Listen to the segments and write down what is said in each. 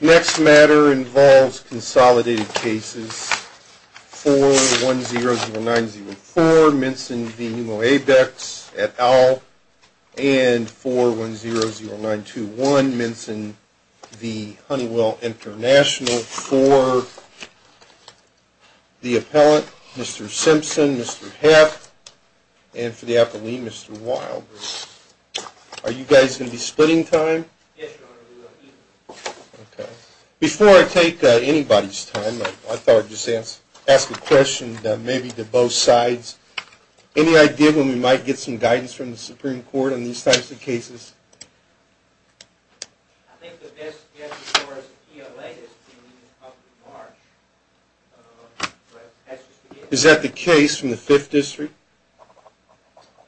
Next matter involves consolidated cases 4100904 Minson v. Pneumo Abex at Owl and 4100921 Minson v. Honeywell International for the appellant Mr. Simpson, Mr. Hepp, and for the appellee Mr. Wilder. Are you guys going to be splitting time? Yes, Your Honor, we will be. Okay. Before I take anybody's time, I thought I'd just ask a question maybe to both sides. Any idea when we might get some guidance from the Supreme Court on these types of cases? I think the best guess as far as the ELA is beginning of March, but that's just a guess. Is that the case from the Fifth District?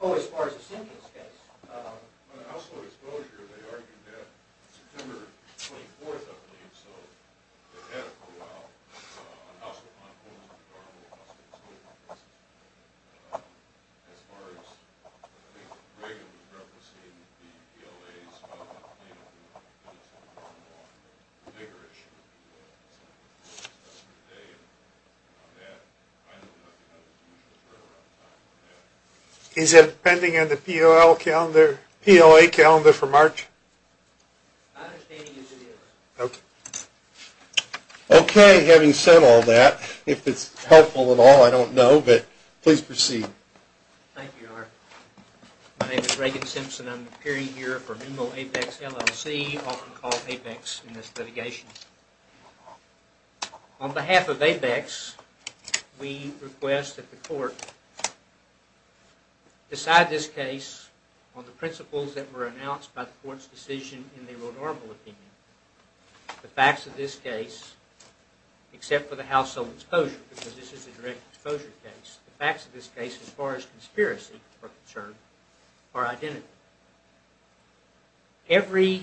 Oh, as far as the Simpsons' case? On household exposure, they argued that September 24th, I believe, so they've had it for a while, on household quantities of the cargo and household disposal cases. And as far as, I think Reagan was referencing the ELA's, I don't know if it's a problem or a bigger issue with the ELA. I know the Constitution was written around the time of that. Is it pending on the PLA calendar for March? I don't think it is. Okay, having said all that, if it's helpful at all, I don't know, but please proceed. Thank you, Your Honor. My name is Reagan Simpson. I'm appearing here for MIMO APEX LLC, often called APEX in this litigation. On behalf of APEX, we request that the Court decide this case on the principles that were announced by the Court's decision in the Rodarmo opinion. The facts of this case, except for the household exposure, because this is a direct exposure case, the facts of this case, as far as conspiracy is concerned, are identical. Every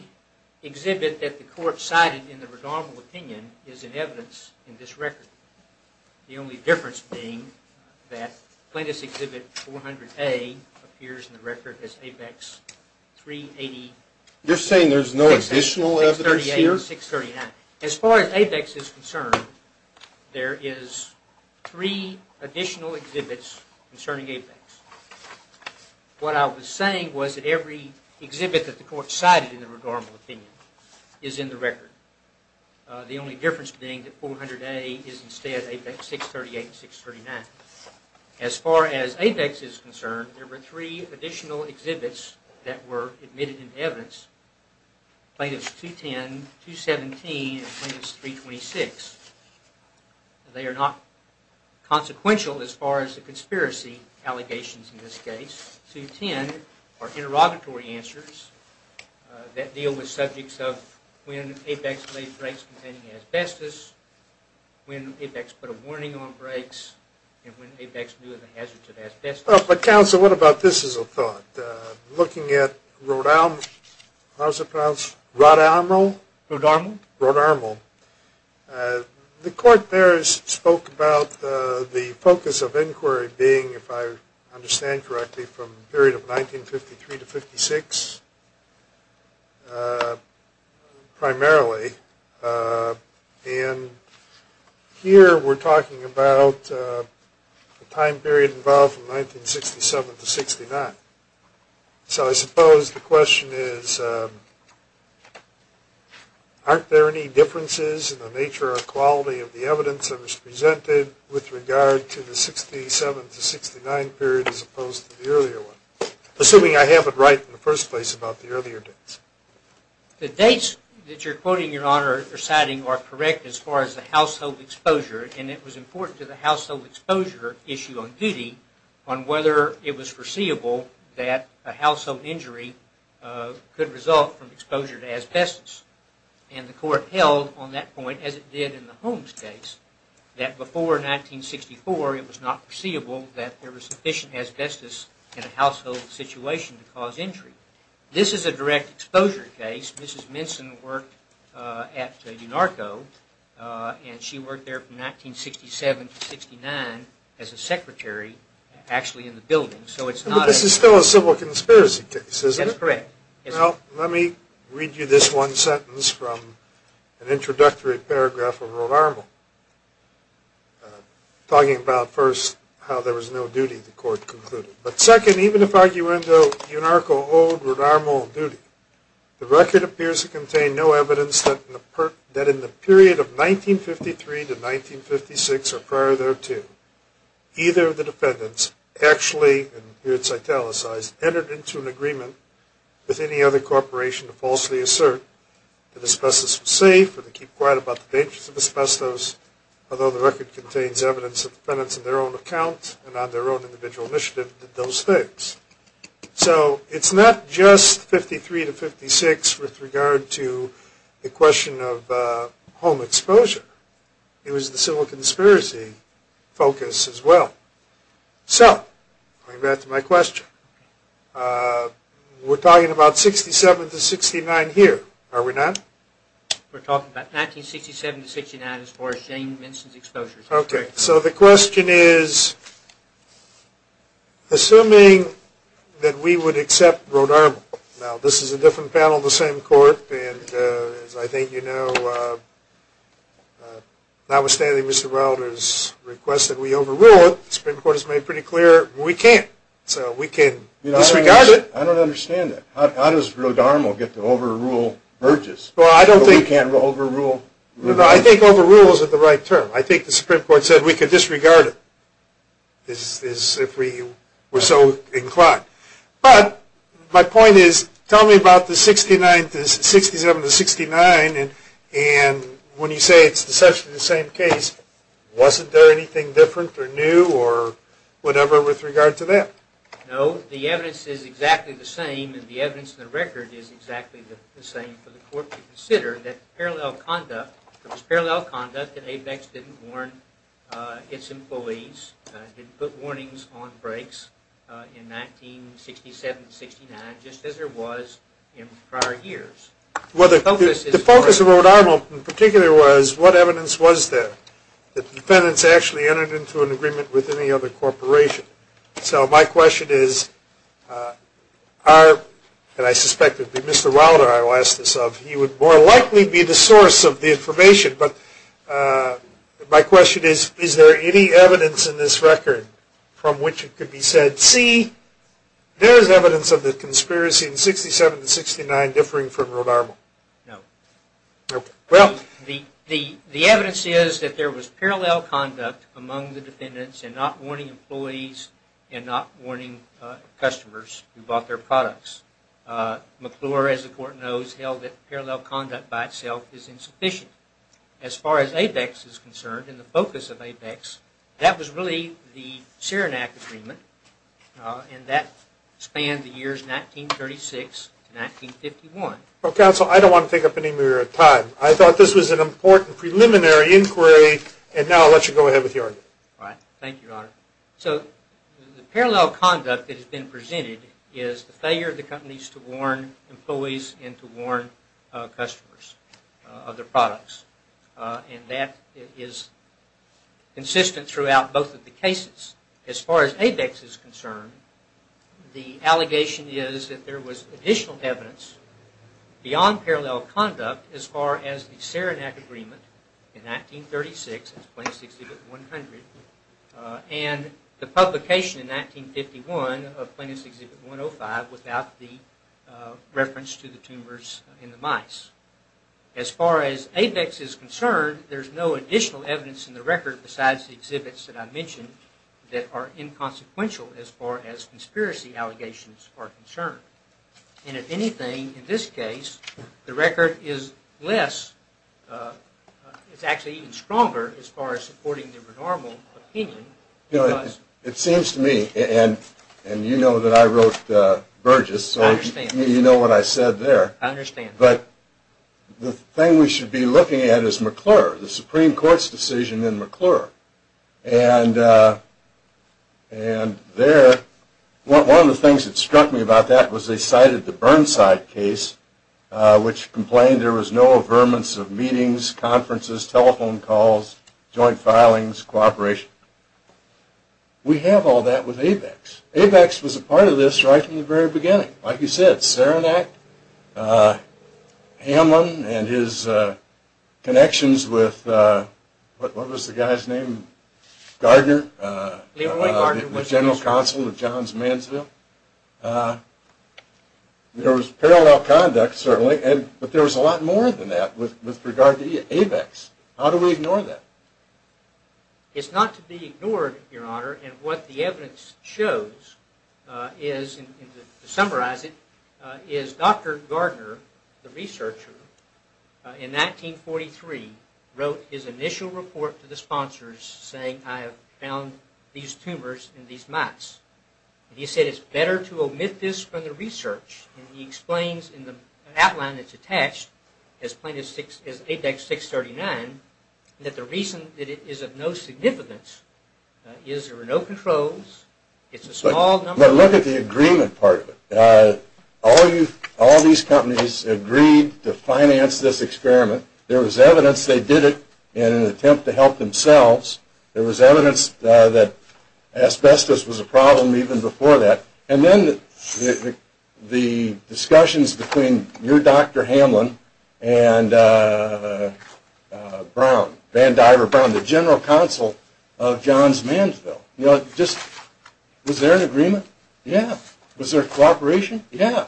exhibit that the Court cited in the Rodarmo opinion is in evidence in this record. The only difference being that plaintiff's exhibit 400A appears in the record as APEX 380. You're saying there's no additional evidence here? 638 and 639. As far as APEX is concerned, there is three additional exhibits concerning APEX. What I was saying was that every exhibit that the Court cited in the Rodarmo opinion is in the record. The only difference being that 400A is instead APEX 638 and 639. As far as APEX is concerned, there were three additional exhibits that were admitted into evidence. Plaintiffs 210, 217, and Plaintiffs 326. They are not consequential as far as the conspiracy allegations in this case. 210 are interrogatory answers that deal with subjects of when APEX made breaks containing asbestos, when APEX put a warning on breaks, and when APEX knew of the hazards of asbestos. Counsel, what about this as a thought? Looking at Rodarmo, how is it pronounced? Rodarmo? Rodarmo. Rodarmo. The Court there spoke about the focus of inquiry being, if I understand correctly, from the period of 1953 to 1956, primarily. And here we're talking about the time period involved from 1967 to 1969. So I suppose the question is, aren't there any differences in the nature or quality of the evidence that was presented with regard to the 1967 to 1969 period as opposed to the earlier one? Assuming I have it right in the first place about the earlier dates. The dates that you're citing are correct as far as the household exposure, and it was important to the household exposure issue on duty on whether it was foreseeable that a household injury could result from exposure to asbestos. And the Court held on that point, as it did in the Holmes case, that before 1964 it was not foreseeable that there was sufficient asbestos in a household situation to cause injury. This is a direct exposure case. Mrs. Minson worked at UNARCO, and she worked there from 1967 to 1969 as a secretary actually in the building. But this is still a civil conspiracy case, isn't it? That's correct. Well, let me read you this one sentence from an introductory paragraph of Rodarmo, talking about, first, how there was no duty, the Court concluded. But second, even if, arguendo, UNARCO owed Rodarmo a duty, the record appears to contain no evidence that in the period of 1953 to 1956 or prior thereto, either of the defendants actually, and here it's italicized, entered into an agreement with any other corporation to falsely assert that asbestos was safe or to keep quiet about the dangers of asbestos, although the record contains evidence of defendants in their own account and on their own individual initiative did those things. So it's not just 1953 to 1956 with regard to the question of home exposure. It was the civil conspiracy focus as well. So, going back to my question, we're talking about 1967 to 1969 here, are we not? We're talking about 1967 to 1969 as far as Jane Minson's exposure is concerned. Okay, so the question is, assuming that we would accept Rodarmo, now this is a different panel, the same court, and as I think you know, notwithstanding Mr. Wilder's request that we overrule it, the Supreme Court has made pretty clear we can't. So we can disregard it. I don't understand that. How does Rodarmo get to overrule Burgess? Well, I don't think. We can't overrule. No, no, I think overrule isn't the right term. I think the Supreme Court said we could disregard it if we were so inclined. But my point is, tell me about the 1967 to 1969, and when you say it's essentially the same case, wasn't there anything different or new or whatever with regard to that? No, the evidence is exactly the same, and the evidence in the record is exactly the same for the court to consider, that parallel conduct, it was parallel conduct that ABEX didn't warn its employees, didn't put warnings on breaks in 1967 to 1969, just as there was in prior years. Well, the focus of Rodarmo in particular was what evidence was there, that defendants actually entered into an agreement with any other corporation. So my question is, and I suspect it would be Mr. Wilder I would ask this of, he would more likely be the source of the information, but my question is, is there any evidence in this record from which it could be said, C, there is evidence of the conspiracy in 1967 to 1969 differing from Rodarmo? No. The evidence is that there was parallel conduct among the defendants and not warning employees and not warning customers who bought their products. McClure, as the court knows, held that parallel conduct by itself is insufficient. As far as ABEX is concerned, and the focus of ABEX, that was really the Saranac Agreement, and that spanned the years 1936 to 1951. Well, counsel, I don't want to take up any more of your time. I thought this was an important preliminary inquiry, and now I'll let you go ahead with your argument. All right. Thank you, Your Honor. So the parallel conduct that has been presented is the failure of the companies to warn employees and to warn customers of their products, and that is consistent throughout both of the cases. As far as ABEX is concerned, the allegation is that there was additional evidence beyond parallel conduct as far as the Saranac Agreement in 1936 as Plaintiff's Exhibit 100 and the publication in 1951 of Plaintiff's Exhibit 105 without the reference to the tumors in the mice. As far as ABEX is concerned, there's no additional evidence in the record besides the exhibits that I mentioned that are inconsequential as far as conspiracy allegations are concerned. And if anything, in this case, the record is less, it's actually even stronger as far as supporting the renormal opinion. You know, it seems to me, and you know that I wrote Burgess, so you know what I said there. I understand. But the thing we should be looking at is McClure, the Supreme Court's decision in McClure. And there, one of the things that struck me about that was they cited the Burnside case, which complained there was no affirmance of meetings, conferences, telephone calls, joint filings, cooperation. We have all that with ABEX. ABEX was a part of this right from the very beginning. Like you said, Saranac, Hamlin, and his connections with, what was the guy's name, Gardner? Leroy Gardner. The general counsel of Johns Mansville. There was parallel conduct, certainly, but there was a lot more than that with regard to ABEX. How do we ignore that? It's not to be ignored, Your Honor, and what the evidence shows is, to summarize it, is Dr. Gardner, the researcher, in 1943 wrote his initial report to the sponsors saying, I have found these tumors in these mice. He said it's better to omit this from the research. And he explains in the outline that's attached, as plain as ABEX 639, that the reason that it is of no significance is there were no controls. It's a small number. But look at the agreement part. All these companies agreed to finance this experiment. There was evidence they did it in an attempt to help themselves. There was evidence that asbestos was a problem even before that. And then the discussions between your Dr. Hamlin and Brown, Van Diver Brown, the general counsel of Johns Mansville. You know, just was there an agreement? Yeah. Was there cooperation? Yeah.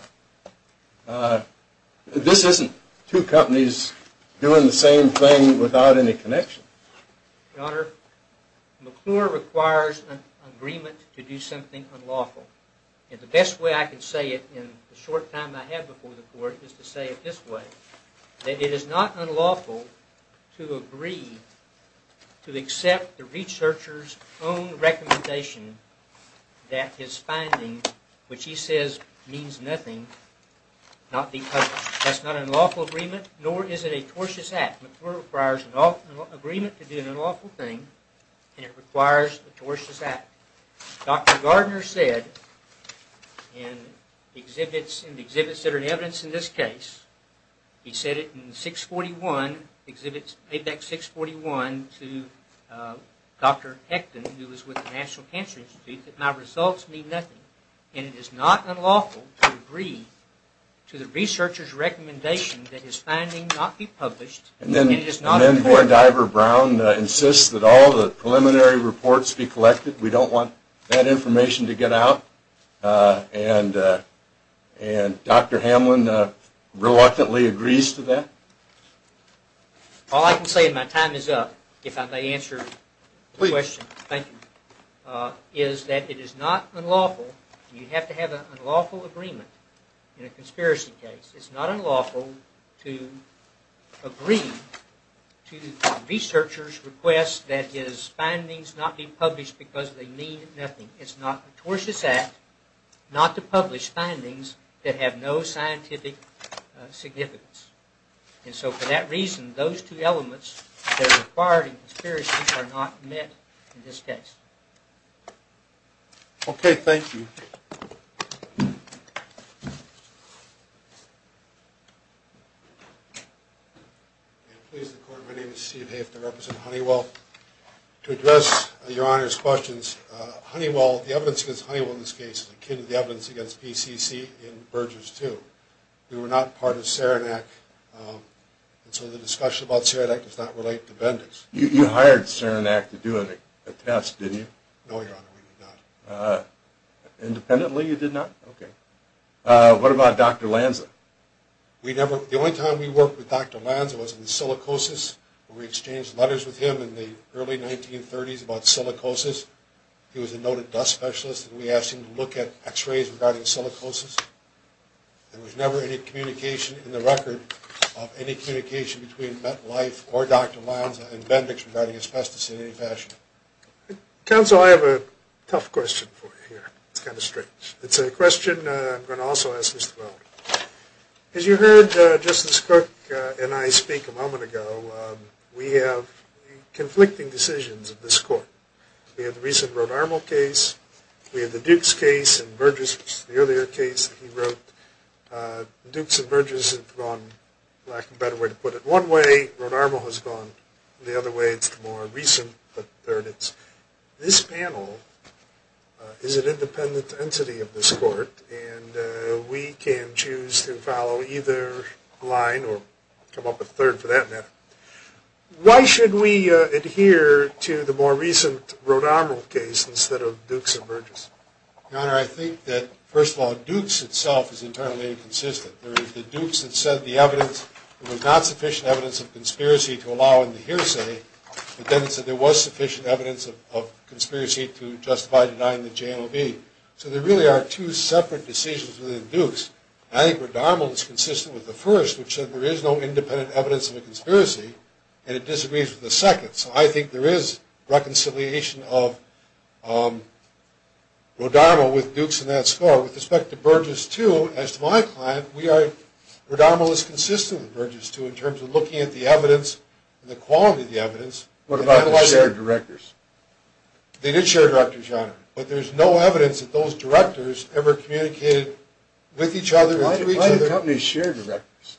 This isn't two companies doing the same thing without any connection. Your Honor, McClure requires an agreement to do something unlawful. And the best way I can say it in the short time I have before the court is to say it this way, that it is not unlawful to agree to accept the researcher's own recommendation that his finding, which he says means nothing, not be published. That's not an unlawful agreement, nor is it a tortious act. McClure requires an agreement to do an unlawful thing, and it requires a tortious act. Dr. Gardner said in exhibits that are in evidence in this case, he said it in Apex 641 to Dr. Hechton, who was with the National Cancer Institute, that my results mean nothing. And it is not unlawful to agree to the researcher's recommendation that his finding not be published. And then Dr. Diver-Brown insists that all the preliminary reports be collected. We don't want that information to get out. And Dr. Hamlin reluctantly agrees to that. All I can say in my time is up, if I may answer the question. Please. Thank you. Is that it is not unlawful, and you have to have an unlawful agreement in a conspiracy case. It's not unlawful to agree to the researcher's request that his findings not be published because they mean nothing. It's not a tortious act not to publish findings that have no scientific significance. And so for that reason, those two elements that are required in conspiracy are not met in this case. Okay. Thank you. Please, the Court. My name is Steve Haft, I represent Honeywell. To address Your Honor's questions, Honeywell, the evidence against Honeywell in this case is akin to the evidence against PCC in Burgess 2. We were not part of Saranac, and so the discussion about Saranac does not relate to Bendix. You hired Saranac to do a test, didn't you? No, Your Honor, we did not. Independently, you did not? Okay. What about Dr. Lanza? The only time we worked with Dr. Lanza was in silicosis. We exchanged letters with him in the early 1930s about silicosis. He was a noted dust specialist, and we asked him to look at x-rays regarding silicosis. There was never any communication in the record of any communication between MetLife or Dr. Lanza and Bendix regarding asbestos in any fashion. Counsel, I have a tough question for you here. It's kind of strange. It's a question I'm going to also ask Mr. Weld. As you heard Justice Cook and I speak a moment ago, we have conflicting decisions in this Court. We have the recent Ronarmal case. We have the Dukes case and Burgess, which is the earlier case that he wrote. Dukes and Burgess have gone, lack of a better way to put it, one way. Ronarmal has gone the other way. It's the more recent, but there it is. This panel is an independent entity of this Court, and we can choose to follow either line or come up with a third for that matter. Why should we adhere to the more recent Ronarmal case instead of Dukes and Burgess? Your Honor, I think that, first of all, Dukes itself is entirely inconsistent. The Dukes had said there was not sufficient evidence of conspiracy to allow in the hearsay, but then it said there was sufficient evidence of conspiracy to justify denying the JLB. I think Ronarmal is consistent with the first, which said there is no independent evidence of a conspiracy, and it disagrees with the second. So I think there is reconciliation of Ronarmal with Dukes in that score. With respect to Burgess 2, as to my client, we are – Ronarmal is consistent with Burgess 2 in terms of looking at the evidence and the quality of the evidence. What about the shared directors? They did share directors, Your Honor, but there's no evidence that those directors ever communicated with each other or through each other. Why do companies share directors?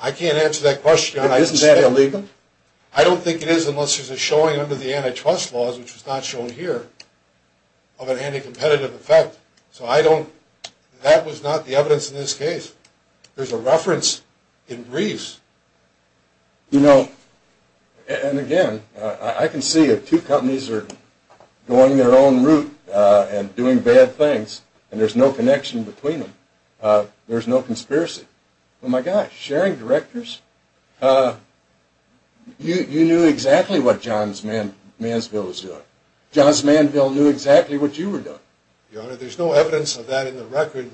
I can't answer that question. Isn't that illegal? I don't think it is unless there's a showing under the antitrust laws, which is not shown here, of an anti-competitive effect. So I don't – that was not the evidence in this case. There's a reference in briefs. You know, and again, I can see if two companies are going their own route and doing bad things and there's no connection between them, there's no conspiracy. Well, my gosh, sharing directors? You knew exactly what Johns Mansville was doing. Johns Mansville knew exactly what you were doing. Your Honor, there's no evidence of that in the record,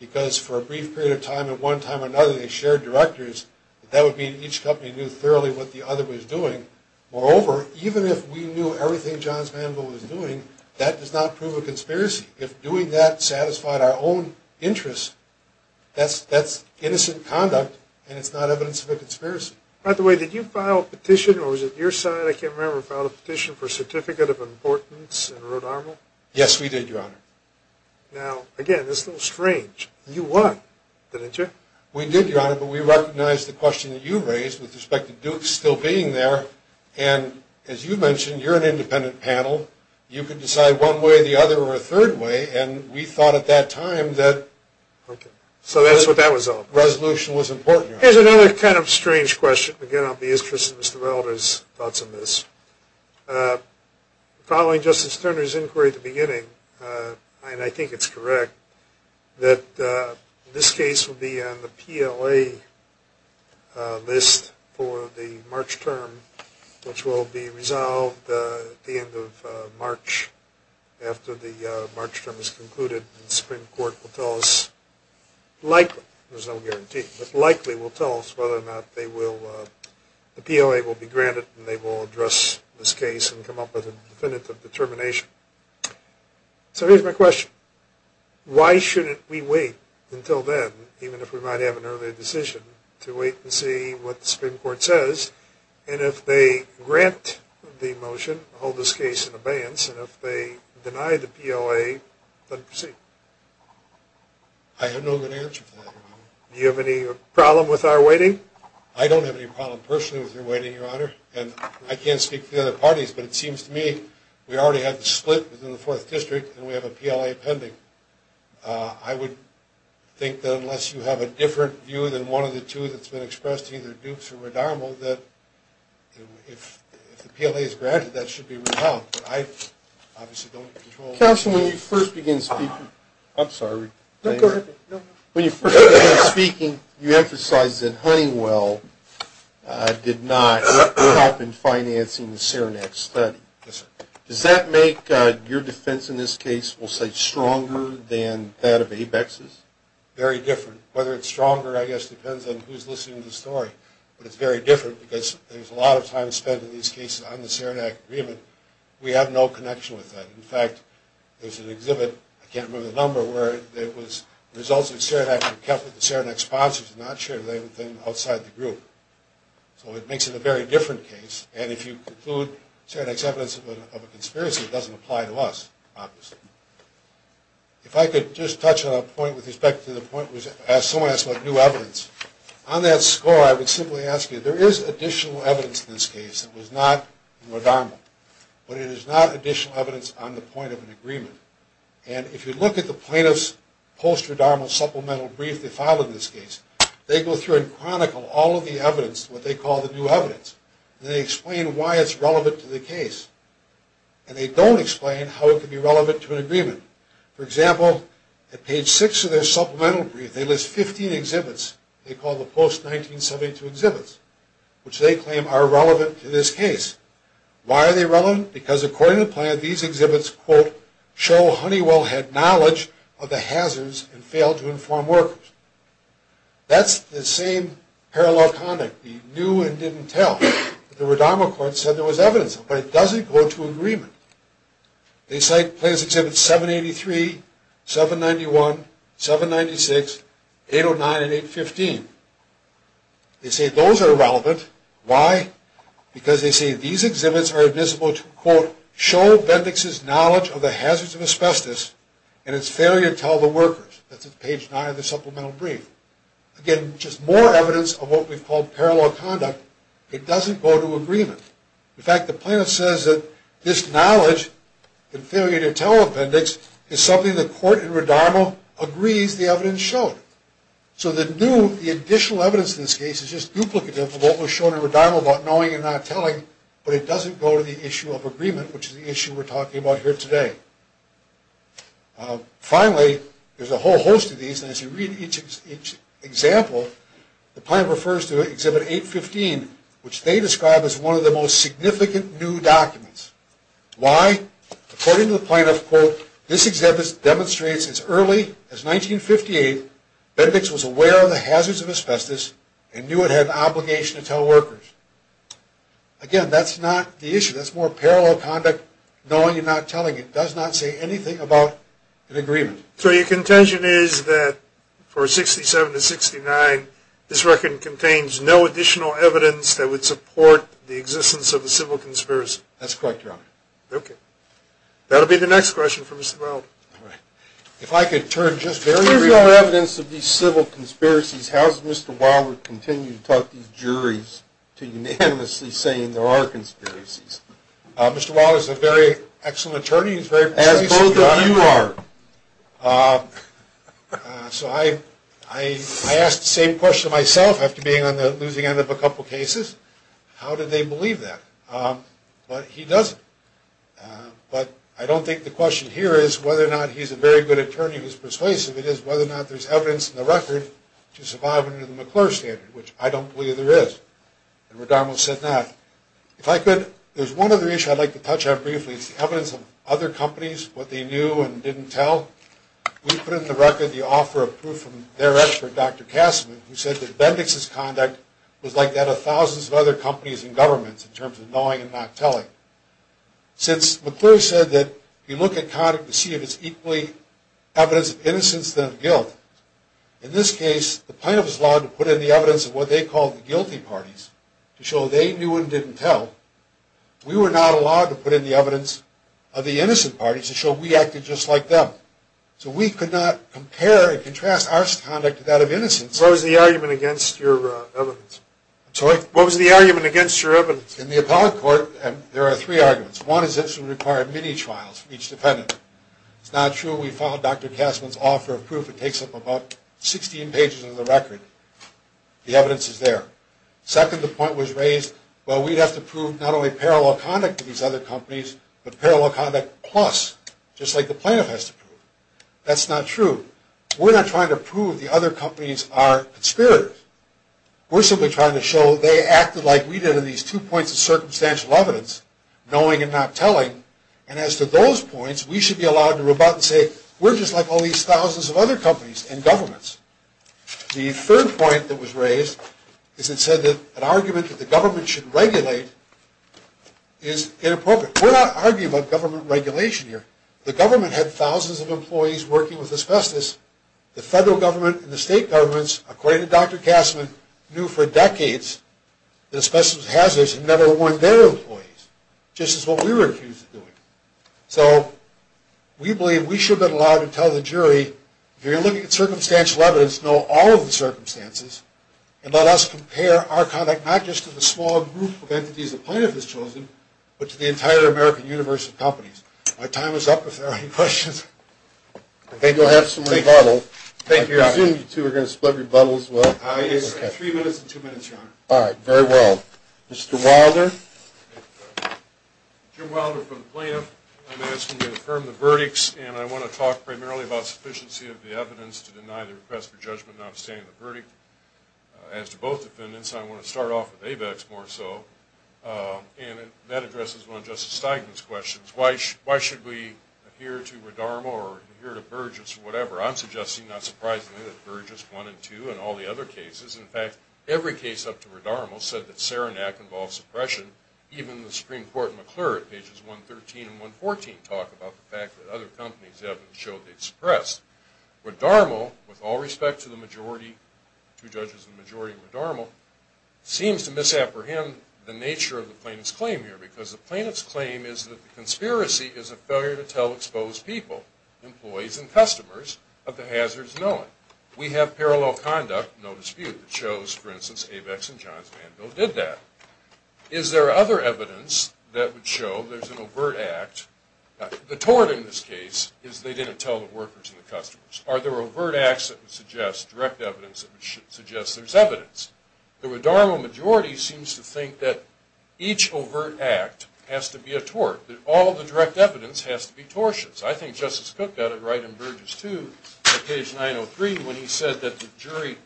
because for a brief period of time at one time or another they shared directors, that would mean each company knew fairly what the other was doing. Moreover, even if we knew everything Johns Mansville was doing, that does not prove a conspiracy. If doing that satisfied our own interests, that's innocent conduct and it's not evidence of a conspiracy. By the way, did you file a petition or was it your side, I can't remember, filed a petition for a certificate of importance in Rhode Island? Yes, we did, Your Honor. Now, again, this is a little strange. You won, didn't you? We did, Your Honor, but we recognized the question that you raised with respect to Duke still being there and, as you mentioned, you're an independent panel. You can decide one way or the other or a third way and we thought at that time that resolution was important. Here's another kind of strange question. Again, I'll be interested in Mr. Melder's thoughts on this. Following Justice Turner's inquiry at the beginning, and I think it's correct, that this case will be on the PLA list for the March term, which will be resolved at the end of March after the March term is concluded and the Supreme Court will tell us, likely, there's no guarantee, but likely will tell us whether or not the PLA will be granted and they will address this case and come up with a definitive determination. So here's my question. Why shouldn't we wait until then, even if we might have an earlier decision, to wait and see what the Supreme Court says? And if they grant the motion, hold this case in abeyance, and if they deny the PLA, then proceed? I have no good answer for that, Your Honor. Do you have any problem with our waiting? I don't have any problem personally with your waiting, Your Honor, and I can't speak for the other parties, but it seems to me we already have the split within the Fourth District and we have a PLA pending. I would think that unless you have a different view than one of the two that's been expressed, either Dukes or Redarmo, that if the PLA is granted, that should be repelled. But I obviously don't control that. Counsel, when you first began speaking, I'm sorry. No, go ahead. When you first began speaking, you emphasized that Honeywell did not help in financing the Saranac study. Yes, sir. Does that make your defense in this case, we'll say, stronger than that of Abex's? Very different. Whether it's stronger, I guess, depends on who's listening to the story. But it's very different because there's a lot of time spent in these cases on the Saranac agreement. We have no connection with that. In fact, there's an exhibit, I can't remember the number, where the results of the Saranac were kept with the Saranac sponsors, not shared with anything outside the group. So it makes it a very different case. And if you conclude Saranac's evidence of a conspiracy, it doesn't apply to us, obviously. If I could just touch on a point with respect to the point someone asked about new evidence. On that score, I would simply ask you, there is additional evidence in this case that was not in Redarmo, but it is not additional evidence on the point of an agreement. And if you look at the plaintiff's post-Redarmo supplemental brief they filed in this case, they go through and chronicle all of the evidence, what they call the new evidence, and they explain why it's relevant to the case. And they don't explain how it could be relevant to an agreement. For example, at page 6 of their supplemental brief, they list 15 exhibits, they call the post-1972 exhibits, which they claim are relevant to this case. Why are they relevant? Because according to the plaintiff, these exhibits, quote, show Honeywell had knowledge of the hazards and failed to inform workers. That's the same parallel comment. He knew and didn't tell. The Redarmo court said there was evidence, but it doesn't go to agreement. They cite plaintiff's exhibits 783, 791, 796, 809, and 815. They say those are relevant. Why? Because they say these exhibits are admissible to, quote, show Bendix's knowledge of the hazards of asbestos and its failure to tell the workers. That's at page 9 of the supplemental brief. Again, just more evidence of what we've called parallel conduct. It doesn't go to agreement. In fact, the plaintiff says that this knowledge, the failure to tell of Bendix, is something the court in Redarmo agrees the evidence showed. So the new, the additional evidence in this case is just duplicative of what was shown in Redarmo about knowing and not telling, but it doesn't go to the issue of agreement, which is the issue we're talking about here today. Finally, there's a whole host of these, and as you read each example, the plaintiff refers to exhibit 815, which they describe as one of the most significant new documents. Why? According to the plaintiff, quote, this exhibit demonstrates as early as 1958 Bendix was aware of the hazards of asbestos and knew it had the obligation to tell workers. Again, that's not the issue. That's more parallel conduct, knowing and not telling. It does not say anything about an agreement. So your contention is that for 67 to 69, this record contains no additional evidence that would support the existence of a civil conspiracy. That's correct, Your Honor. Okay. That'll be the next question for Mr. Wilden. All right. If I could turn just very briefly. With no evidence of these civil conspiracies, how does Mr. Wilden continue to talk these juries to unanimously saying there are conspiracies? Mr. Wilden is a very excellent attorney. He's very persuasive. As both of you are. So I asked the same question myself after being on the losing end of a couple cases. How did they believe that? But he doesn't. But I don't think the question here is whether or not he's a very good attorney who's persuasive. It is whether or not there's evidence in the record to survive under the McClure standard, which I don't believe there is. And Rodamos said not. If I could, there's one other issue I'd like to touch on briefly. It's the evidence of other companies, what they knew and didn't tell. We put in the record the offer of proof from their expert, Dr. Kassaman, who said that Bendix's conduct was like that of thousands of other companies and governments in terms of knowing and not telling. Since McClure said that you look at conduct to see if it's equally evidence of innocence than of guilt, in this case the plaintiff was allowed to put in the evidence of what they called the guilty parties to show they knew and didn't tell. We were not allowed to put in the evidence of the innocent parties to show we acted just like them. So we could not compare and contrast our conduct to that of innocence. What was the argument against your evidence? I'm sorry? What was the argument against your evidence? In the appellate court, there are three arguments. One is this would require many trials from each defendant. It's not true. We followed Dr. Kassaman's offer of proof. It takes up about 16 pages of the record. The evidence is there. Second, the point was raised, well, we'd have to prove not only parallel conduct to these other companies, but parallel conduct plus, just like the plaintiff has to prove. That's not true. We're not trying to prove the other companies are conspirators. We're simply trying to show they acted like we did in these two points of circumstantial evidence, knowing and not telling. And as to those points, we should be allowed to rebut and say, we're just like all these thousands of other companies and governments. The third point that was raised is it said that an argument that the government should regulate is inappropriate. We're not arguing about government regulation here. The government had thousands of employees working with asbestos. The federal government and the state governments, according to Dr. Kassaman, knew for decades that asbestos hazards had never won their employees, just as what we were accused of doing. So we believe we should have been allowed to tell the jury, if you're looking at circumstantial evidence, know all of the circumstances and let us compare our conduct not just to the small group of entities the plaintiff has chosen, but to the entire American universe of companies. My time is up if there are any questions. I think we'll have some rebuttal. I assume you two are going to split rebuttals as well? Yes, three minutes and two minutes, Your Honor. All right, very well. Mr. Wilder? Jim Wilder from the plaintiff. I'm asking to affirm the verdicts, and I want to talk primarily about sufficiency of the evidence to deny the request for judgment, not abstaining from the verdict. As to both defendants, I want to start off with ABEX more so, and that addresses one of Justice Steigman's questions. Why should we adhere to Redarmo or adhere to Burgess or whatever? I'm suggesting, not surprisingly, that Burgess won in two and all the other cases. In fact, every case up to Redarmo said that Saranac involves suppression, even the Supreme Court in McClure at pages 113 and 114 talk about the fact that other companies have been shown they've suppressed. Redarmo, with all respect to the majority, two judges in the majority in Redarmo, seems to misapprehend the nature of the plaintiff's claim here, because the plaintiff's claim is that the conspiracy is a failure to tell exposed people, employees and customers, of the hazards known. We have parallel conduct, no dispute, that shows, for instance, ABEX and Johns Vanville did that. Is there other evidence that would show there's an overt act? The tort in this case is they didn't tell the workers and the customers. Are there overt acts that would suggest direct evidence that would suggest there's evidence? The Redarmo majority seems to think that each overt act has to be a tort, that all the direct evidence has to be tortious. I think Justice Cook got it right in Burgess, too, at page 903, when he said that the jury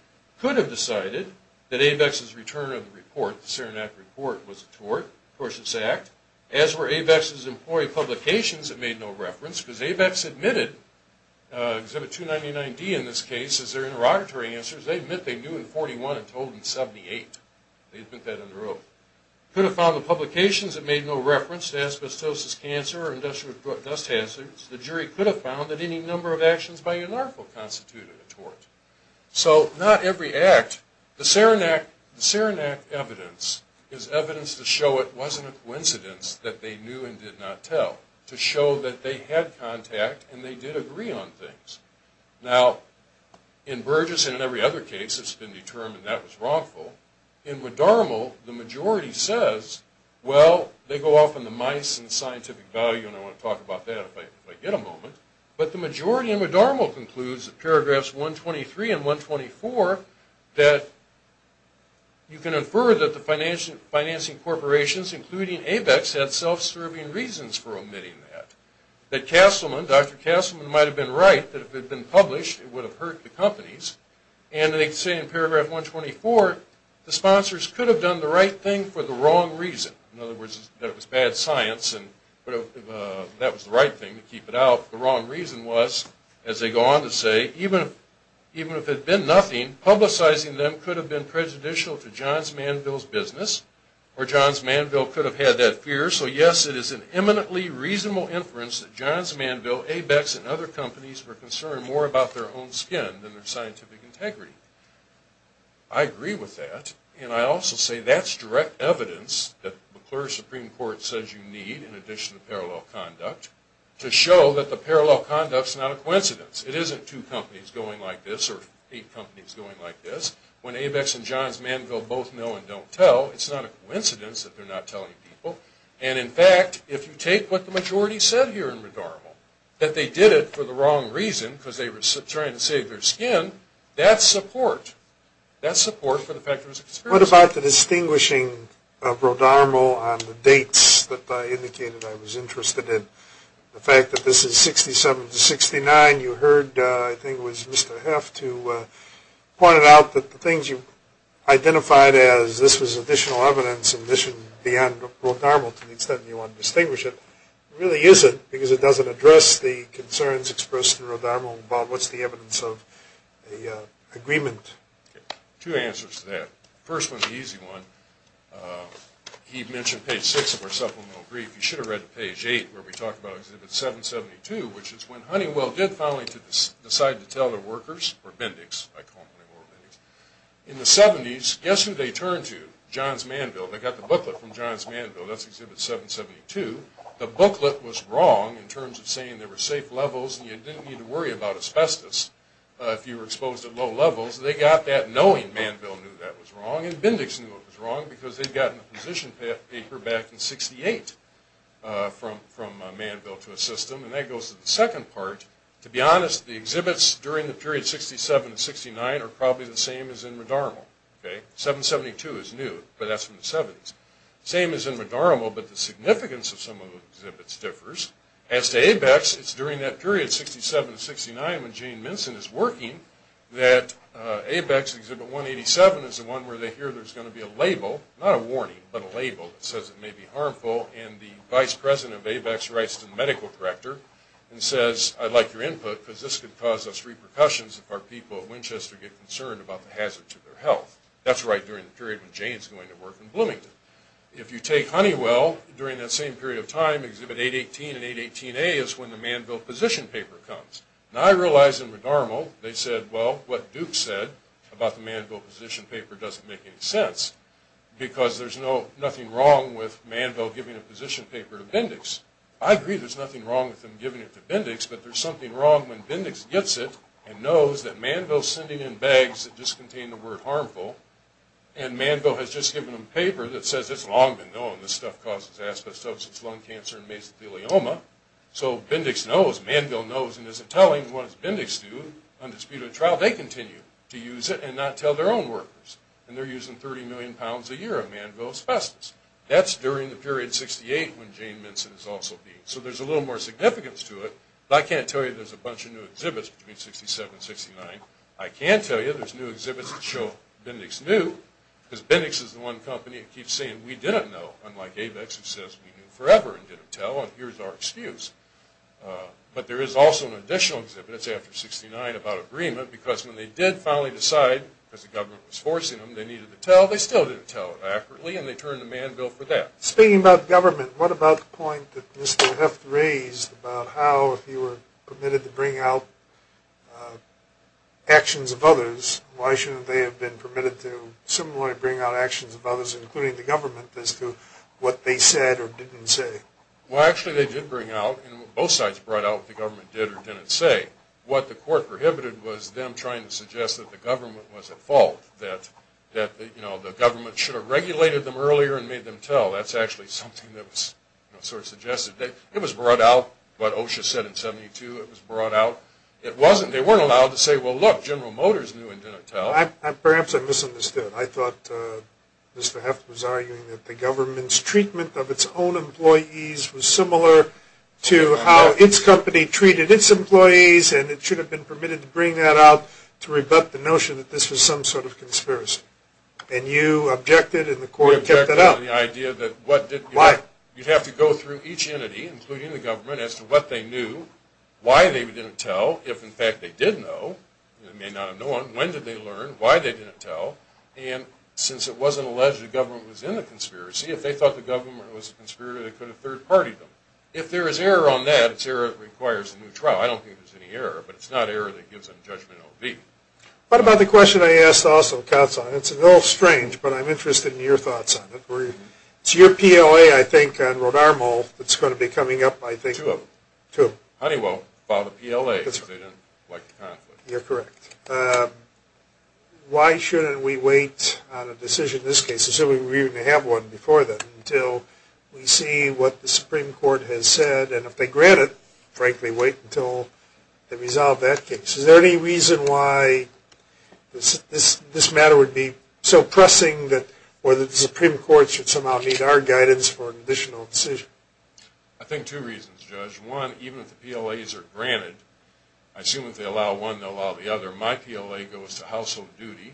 could have decided that ABEX's return of the report, the Saranac report, was a tort, a tortious act, as were ABEX's employee publications that made no reference, because ABEX admitted, Exhibit 299-D in this case, as their interrogatory answers, they admit they knew in 41 and told in 78. They admit that under oath. Could have found the publications that made no reference to asbestosis, cancer, or industrial dust hazards. The jury could have found that any number of actions by a narco constituted a tort. So not every act. The Saranac evidence is evidence to show it wasn't a coincidence that they knew and did not tell, to show that they had contact and they did agree on things. Now, in Burgess and in every other case, it's been determined that was wrongful. In McDermott, the majority says, well, they go off on the mice and scientific value, and I want to talk about that if I get a moment. But the majority in McDermott concludes, in paragraphs 123 and 124, that you can infer that the financing corporations, including ABEX, had self-serving reasons for omitting that. That Castleman, Dr. Castleman, might have been right that if it had been published, it would have hurt the companies. And they say in paragraph 124, the sponsors could have done the right thing for the wrong reason. In other words, that it was bad science and that was the right thing to keep it out. The wrong reason was, as they go on to say, even if it had been nothing, publicizing them could have been prejudicial to Johns Manville's business or Johns Manville could have had that fear. So yes, it is an eminently reasonable inference that Johns Manville, ABEX, and other companies were concerned more about their own skin than their scientific integrity. I agree with that. And I also say that's direct evidence that the McClure Supreme Court says you need, in addition to parallel conduct, to show that the parallel conduct is not a coincidence. It isn't two companies going like this or eight companies going like this. When ABEX and Johns Manville both know and don't tell, it's not a coincidence that they're not telling people. And, in fact, if you take what the majority said here in Rodarmo, that they did it for the wrong reason because they were trying to save their skin, that's support. That's support for the fact that it was a conspiracy. What about the distinguishing of Rodarmo on the dates that I indicated I was interested in? The fact that this is 67 to 69, you heard, I think it was Mr. Heff, to point it out that the things you identified as this was additional evidence and this should be on Rodarmo to the extent you want to distinguish it, it really isn't because it doesn't address the concerns expressed in Rodarmo. Bob, what's the evidence of the agreement? Two answers to that. The first one is an easy one. He mentioned page 6 of our supplemental brief. You should have read page 8 where we talk about exhibit 772, which is when Honeywell did finally decide to tell their workers, or Bindex, I call them Honeywell or Bindex, in the 70s, guess who they turned to? Johns Manville. They got the booklet from Johns Manville. That's exhibit 772. The booklet was wrong in terms of saying there were safe levels and you didn't need to worry about asbestos if you were exposed at low levels. They got that knowing Manville knew that was wrong and Bindex knew it was wrong because they'd gotten a position paper back in 68 from Manville to assist them. And that goes to the second part. To be honest, the exhibits during the period 67 and 69 are probably the same as in Rodarmo. 772 is new, but that's from the 70s. Same as in Rodarmo, but the significance of some of the exhibits differs. As to ABEX, it's during that period, 67 and 69, when Jane Minson is working, that ABEX exhibit 187 is the one where they hear there's going to be a label, not a warning, but a label that says it may be harmful and the vice president of ABEX writes to the medical director and says, I'd like your input because this could cause us repercussions if our people at Winchester get concerned about the hazards to their health. That's right during the period when Jane's going to work in Bloomington. If you take Honeywell, during that same period of time, exhibit 818 and 818A is when the Manville position paper comes. And I realize in Rodarmo they said, well, what Duke said about the Manville position paper doesn't make any sense because there's nothing wrong with Manville giving a position paper to Bindex. I agree there's nothing wrong with them giving it to Bindex, but there's something wrong when Bindex gets it and knows that Manville's sending in bags that just contain the word harmful and Manville has just given them paper that says it's long been known this stuff causes asbestosis, lung cancer, and mesothelioma. So Bindex knows, Manville knows, and isn't telling. And what does Bindex do on disputed trial? They continue to use it and not tell their own workers. And they're using 30 million pounds a year of Manville asbestos. That's during the period 68 when Jane Minson is also being. So there's a little more significance to it. But I can't tell you there's a bunch of new exhibits between 67 and 69. I can tell you there's new exhibits that show Bindex knew because Bindex is the one company that keeps saying we didn't know, unlike ABEX who says we knew forever and didn't tell and here's our excuse. But there is also an additional exhibit that's after 69 about agreement because when they did finally decide, because the government was forcing them, they needed to tell, they still didn't tell accurately and they turned to Manville for that. Speaking about government, what about the point that Mr. Heft raised about how if you were permitted to bring out actions of others, why shouldn't they have been permitted to similarly bring out actions of others, including the government, as to what they said or didn't say? Well, actually they did bring out and both sides brought out what the government did or didn't say. What the court prohibited was them trying to suggest that the government was at fault, that the government should have regulated them earlier and made them tell. That's actually something that was sort of suggested. It was brought out, what OSHA said in 72, it was brought out. It wasn't, they weren't allowed to say, well, look, General Motors knew and didn't tell. Perhaps I misunderstood. I thought Mr. Heft was arguing that the government's treatment of its own employees was similar to how its company treated its employees and it should have been permitted to bring that out to rebut the notion that this was some sort of conspiracy. And you objected and the court kept that out. I objected to the idea that you'd have to go through each entity, including the government, as to what they knew, why they didn't tell, if in fact they did know, they may not have known, when did they learn, why they didn't tell, and since it wasn't alleged the government was in the conspiracy, if they thought the government was a conspirator, they could have third-partied them. If there is error on that, it's error that requires a new trial. I don't think there's any error, but it's not error that gives them judgment O.V. What about the question I asked also, counsel, and it's a little strange, but I'm interested in your thoughts on it. It's your PLA, I think, on Rotarmo that's going to be coming up, I think. Two of them. Honeywell filed a PLA because they didn't like the conflict. You're correct. Why shouldn't we wait on a decision in this case, assuming we're going to have one before then, until we see what the Supreme Court has said, and if they grant it, frankly, wait until they resolve that case. Is there any reason why this matter would be so pressing that the Supreme Court should somehow need our guidance for an additional decision? I think two reasons, Judge. One, even if the PLAs are granted, I assume if they allow one, they'll allow the other. My PLA goes to household duty,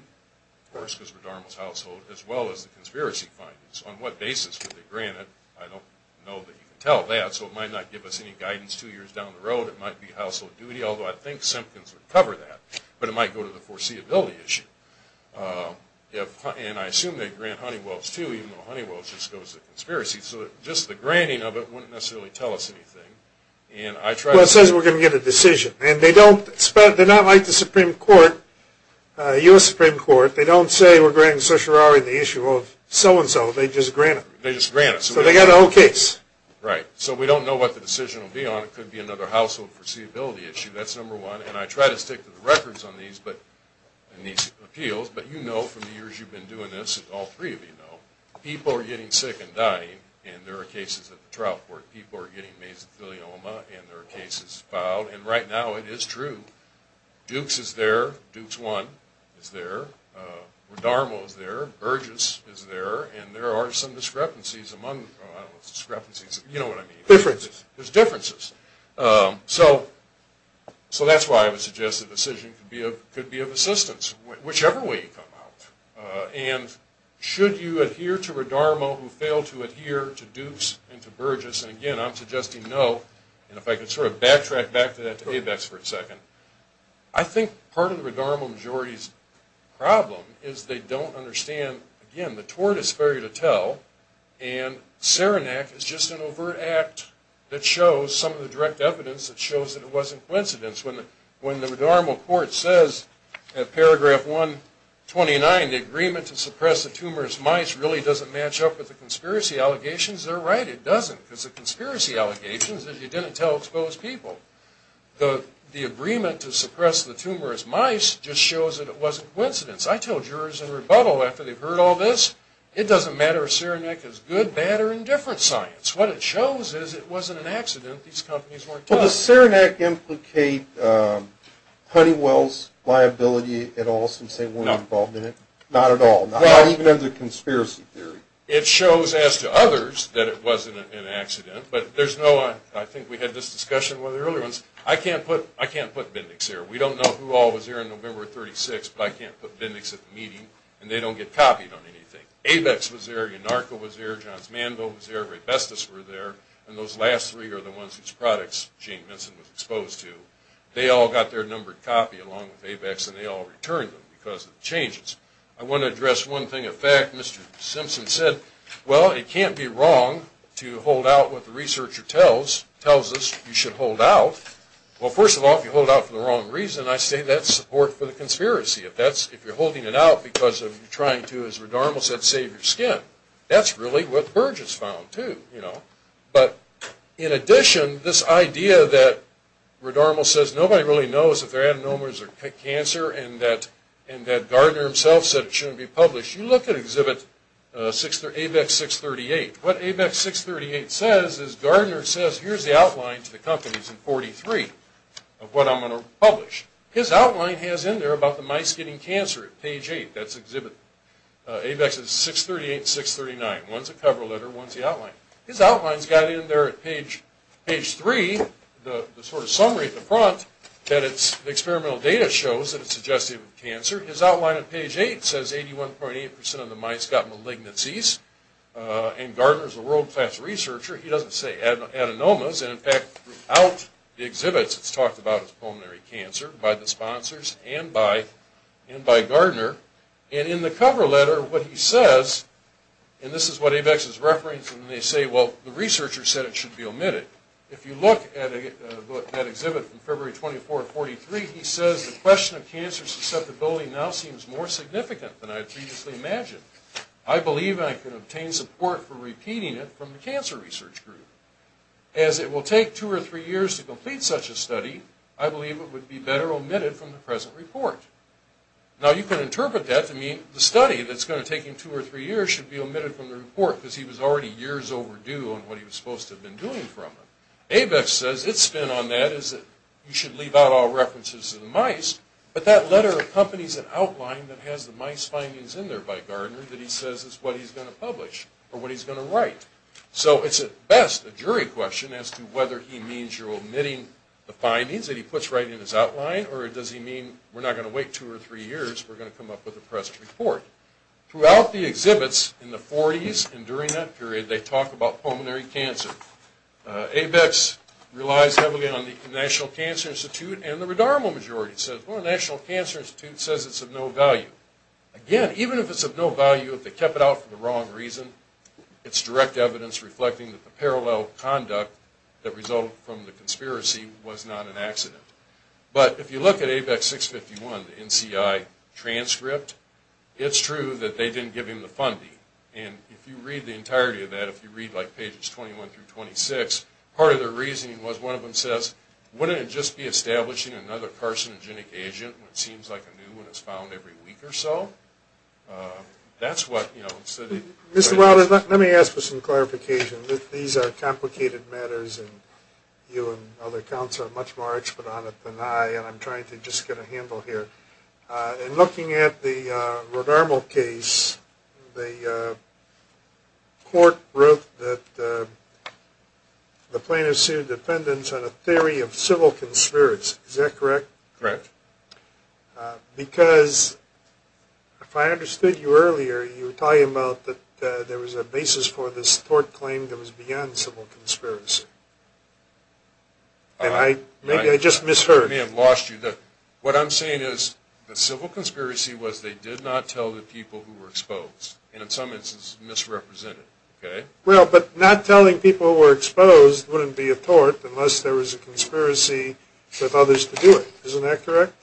of course, because Rotarmo's household, as well as the conspiracy findings. On what basis would they grant it? I don't know that you can tell that, so it might not give us any guidance two years down the road. It might be household duty, although I think Simpkins would cover that. But it might go to the foreseeability issue. And I assume they grant Honeywell's too, even though Honeywell's just goes to conspiracy. So just the granting of it wouldn't necessarily tell us anything. Well, it says we're going to get a decision. They're not like the Supreme Court, the U.S. Supreme Court. They don't say we're granting certiorari on the issue of so-and-so. They just grant it. They just grant it. So they got the whole case. Right. So we don't know what the decision will be on. It could be another household foreseeability issue. That's number one. And I try to stick to the records on these appeals, but you know from the years you've been doing this, all three of you know, people are getting sick and dying, and there are cases at the trial court. People are getting mesothelioma, and there are cases filed. And right now it is true. Dukes is there. Dukes I is there. Radarmo is there. Burgess is there. And there are some discrepancies among those discrepancies. You know what I mean. Differences. There's differences. So that's why I would suggest the decision could be of assistance, whichever way you come out. And should you adhere to Radarmo who failed to adhere to Dukes and to Burgess? And, again, I'm suggesting no. And if I could sort of backtrack back to that to ABEX for a second. I think part of the Radarmo majority's problem is they don't understand, again, the tort is fair to tell, and Saranac is just an overt act that shows some of the direct evidence that shows that it wasn't coincidence. When the Radarmo court says at paragraph 129, the agreement to suppress the tumorous mice really doesn't match up with the conspiracy allegations, they're right. It doesn't because the conspiracy allegations, as you didn't tell exposed people, the agreement to suppress the tumorous mice just shows that it wasn't coincidence. I tell jurors in rebuttal after they've heard all this, it doesn't matter if Saranac is good, bad, or indifferent science. These companies weren't tough. Does Saranac implicate Honeywell's liability at all since they weren't involved in it? No. Not at all? Not even in the conspiracy theory? It shows, as to others, that it wasn't an accident. But there's no, I think we had this discussion with one of the earlier ones, I can't put Bindex here. We don't know who all was here on November 36th, but I can't put Bindex at the meeting, and they don't get copied on anything. ABEX was there. Anarcho was there. Johns Manville was there. Raybestos were there. And those last three are the ones whose products Jane Vinson was exposed to. They all got their numbered copy along with ABEX, and they all returned them because of the changes. I want to address one thing of fact. Mr. Simpson said, well, it can't be wrong to hold out what the researcher tells us you should hold out. Well, first of all, if you hold out for the wrong reason, I say that's support for the conspiracy. If you're holding it out because you're trying to, as Redarmal said, save your skin. That's really what Burgess found, too. But in addition, this idea that, Redarmal says, nobody really knows if their adenomas are cancer, and that Gardner himself said it shouldn't be published. You look at exhibit ABEX 638. What ABEX 638 says is Gardner says, here's the outline to the companies in 43 of what I'm going to publish. His outline has in there about the mice getting cancer at page 8. That's exhibit ABEX 638 and 639. One's a cover letter. One's the outline. His outline's got in there at page 3 the sort of summary at the front that it's experimental data shows that it's suggestive of cancer. His outline at page 8 says 81.8% of the mice got malignancies, and Gardner's a world-class researcher. He doesn't say adenomas. In fact, throughout the exhibits, it's talked about as pulmonary cancer by the sponsors and by Gardner. In the cover letter, what he says, and this is what ABEX is referencing, they say, well, the researcher said it should be omitted. If you look at that exhibit from February 24 of 43, he says the question of cancer susceptibility now seems more significant than I previously imagined. I believe I can obtain support for repeating it from the cancer research group. As it will take two or three years to complete such a study, I believe it would be better omitted from the present report. Now you can interpret that to mean the study that's going to take him two or three years should be omitted from the report because he was already years overdue on what he was supposed to have been doing from it. ABEX says its spin on that is that you should leave out all references to the mice, but that letter accompanies an outline that has the mice findings in there by Gardner that he says is what he's going to publish or what he's going to write. So it's at best a jury question as to whether he means you're omitting the findings that he puts right in his outline, or does he mean we're not going to wait two or three years, we're going to come up with a present report. Throughout the exhibits in the 40s and during that period, they talk about pulmonary cancer. ABEX relies heavily on the National Cancer Institute, and the redormal majority says, well, the National Cancer Institute says it's of no value. Again, even if it's of no value, if they kept it out for the wrong reason, it's direct evidence reflecting that the parallel conduct that resulted from the conspiracy was not an accident. But if you look at ABEX 651, the NCI transcript, it's true that they didn't give him the funding. And if you read the entirety of that, if you read like pages 21 through 26, part of the reasoning was one of them says, wouldn't it just be establishing another carcinogenic agent when it seems like a new one is found every week or so? That's what, you know, the city... Mr. Wilder, let me ask for some clarification. These are complicated matters, and you and other counsel are much more expert on it than I, and I'm trying to just get a handle here. In looking at the redormal case, the court wrote that the plaintiff sued defendants on a theory of civil conspiracy. Is that correct? Correct. Because if I understood you earlier, you were talking about that there was a basis for this tort claim that was beyond civil conspiracy. And maybe I just misheard. I may have lost you. What I'm saying is the civil conspiracy was they did not tell the people who were exposed, and in some instances misrepresented, okay? Well, but not telling people who were exposed wouldn't be a tort unless there was a conspiracy with others to do it. Isn't that correct?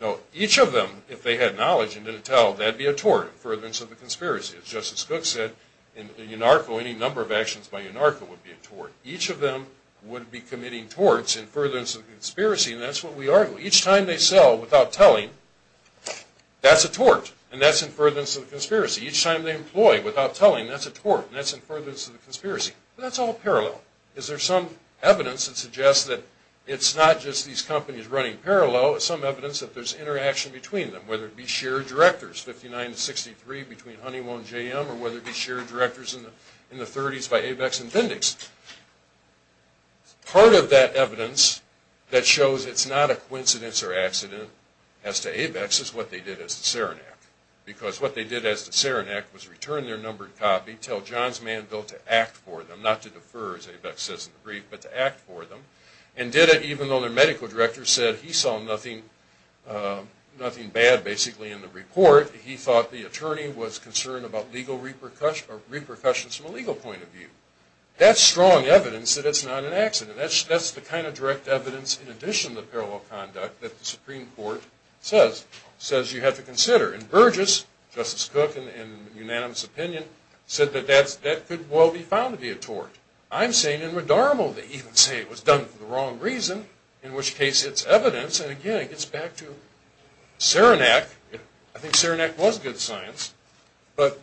No. Each of them, if they had knowledge and didn't tell, that would be a tort in furtherance of the conspiracy. As Justice Cook said, in UNARCO, any number of actions by UNARCO would be a tort. Each of them would be committing torts in furtherance of the conspiracy, and that's what we argue. Each time they sell without telling, that's a tort, and that's in furtherance of the conspiracy. Each time they employ without telling, that's a tort, and that's in furtherance of the conspiracy. That's all parallel. Is there some evidence that suggests that it's not just these companies running parallel, some evidence that there's interaction between them, whether it be shared directors, 59 to 63, between Honeywell and JM, or whether it be shared directors in the 30s by ABEX and Bindex? Part of that evidence that shows it's not a coincidence or accident as to ABEX is what they did as to Saranac, because what they did as to Saranac was return their numbered copy, tell Johns Manville to act for them, not to defer, as ABEX says in the brief, but to act for them, and did it even though their medical director said he saw nothing bad, basically, in the report. He thought the attorney was concerned about legal repercussions from a legal point of view. That's strong evidence that it's not an accident. That's the kind of direct evidence, in addition to parallel conduct, that the Supreme Court says you have to consider. And Burgess, Justice Cook, in unanimous opinion, said that that could well be found to be a tort. I'm saying in Radarmo they even say it was done for the wrong reason, in which case it's evidence, and again, it gets back to Saranac. I think Saranac was good science, but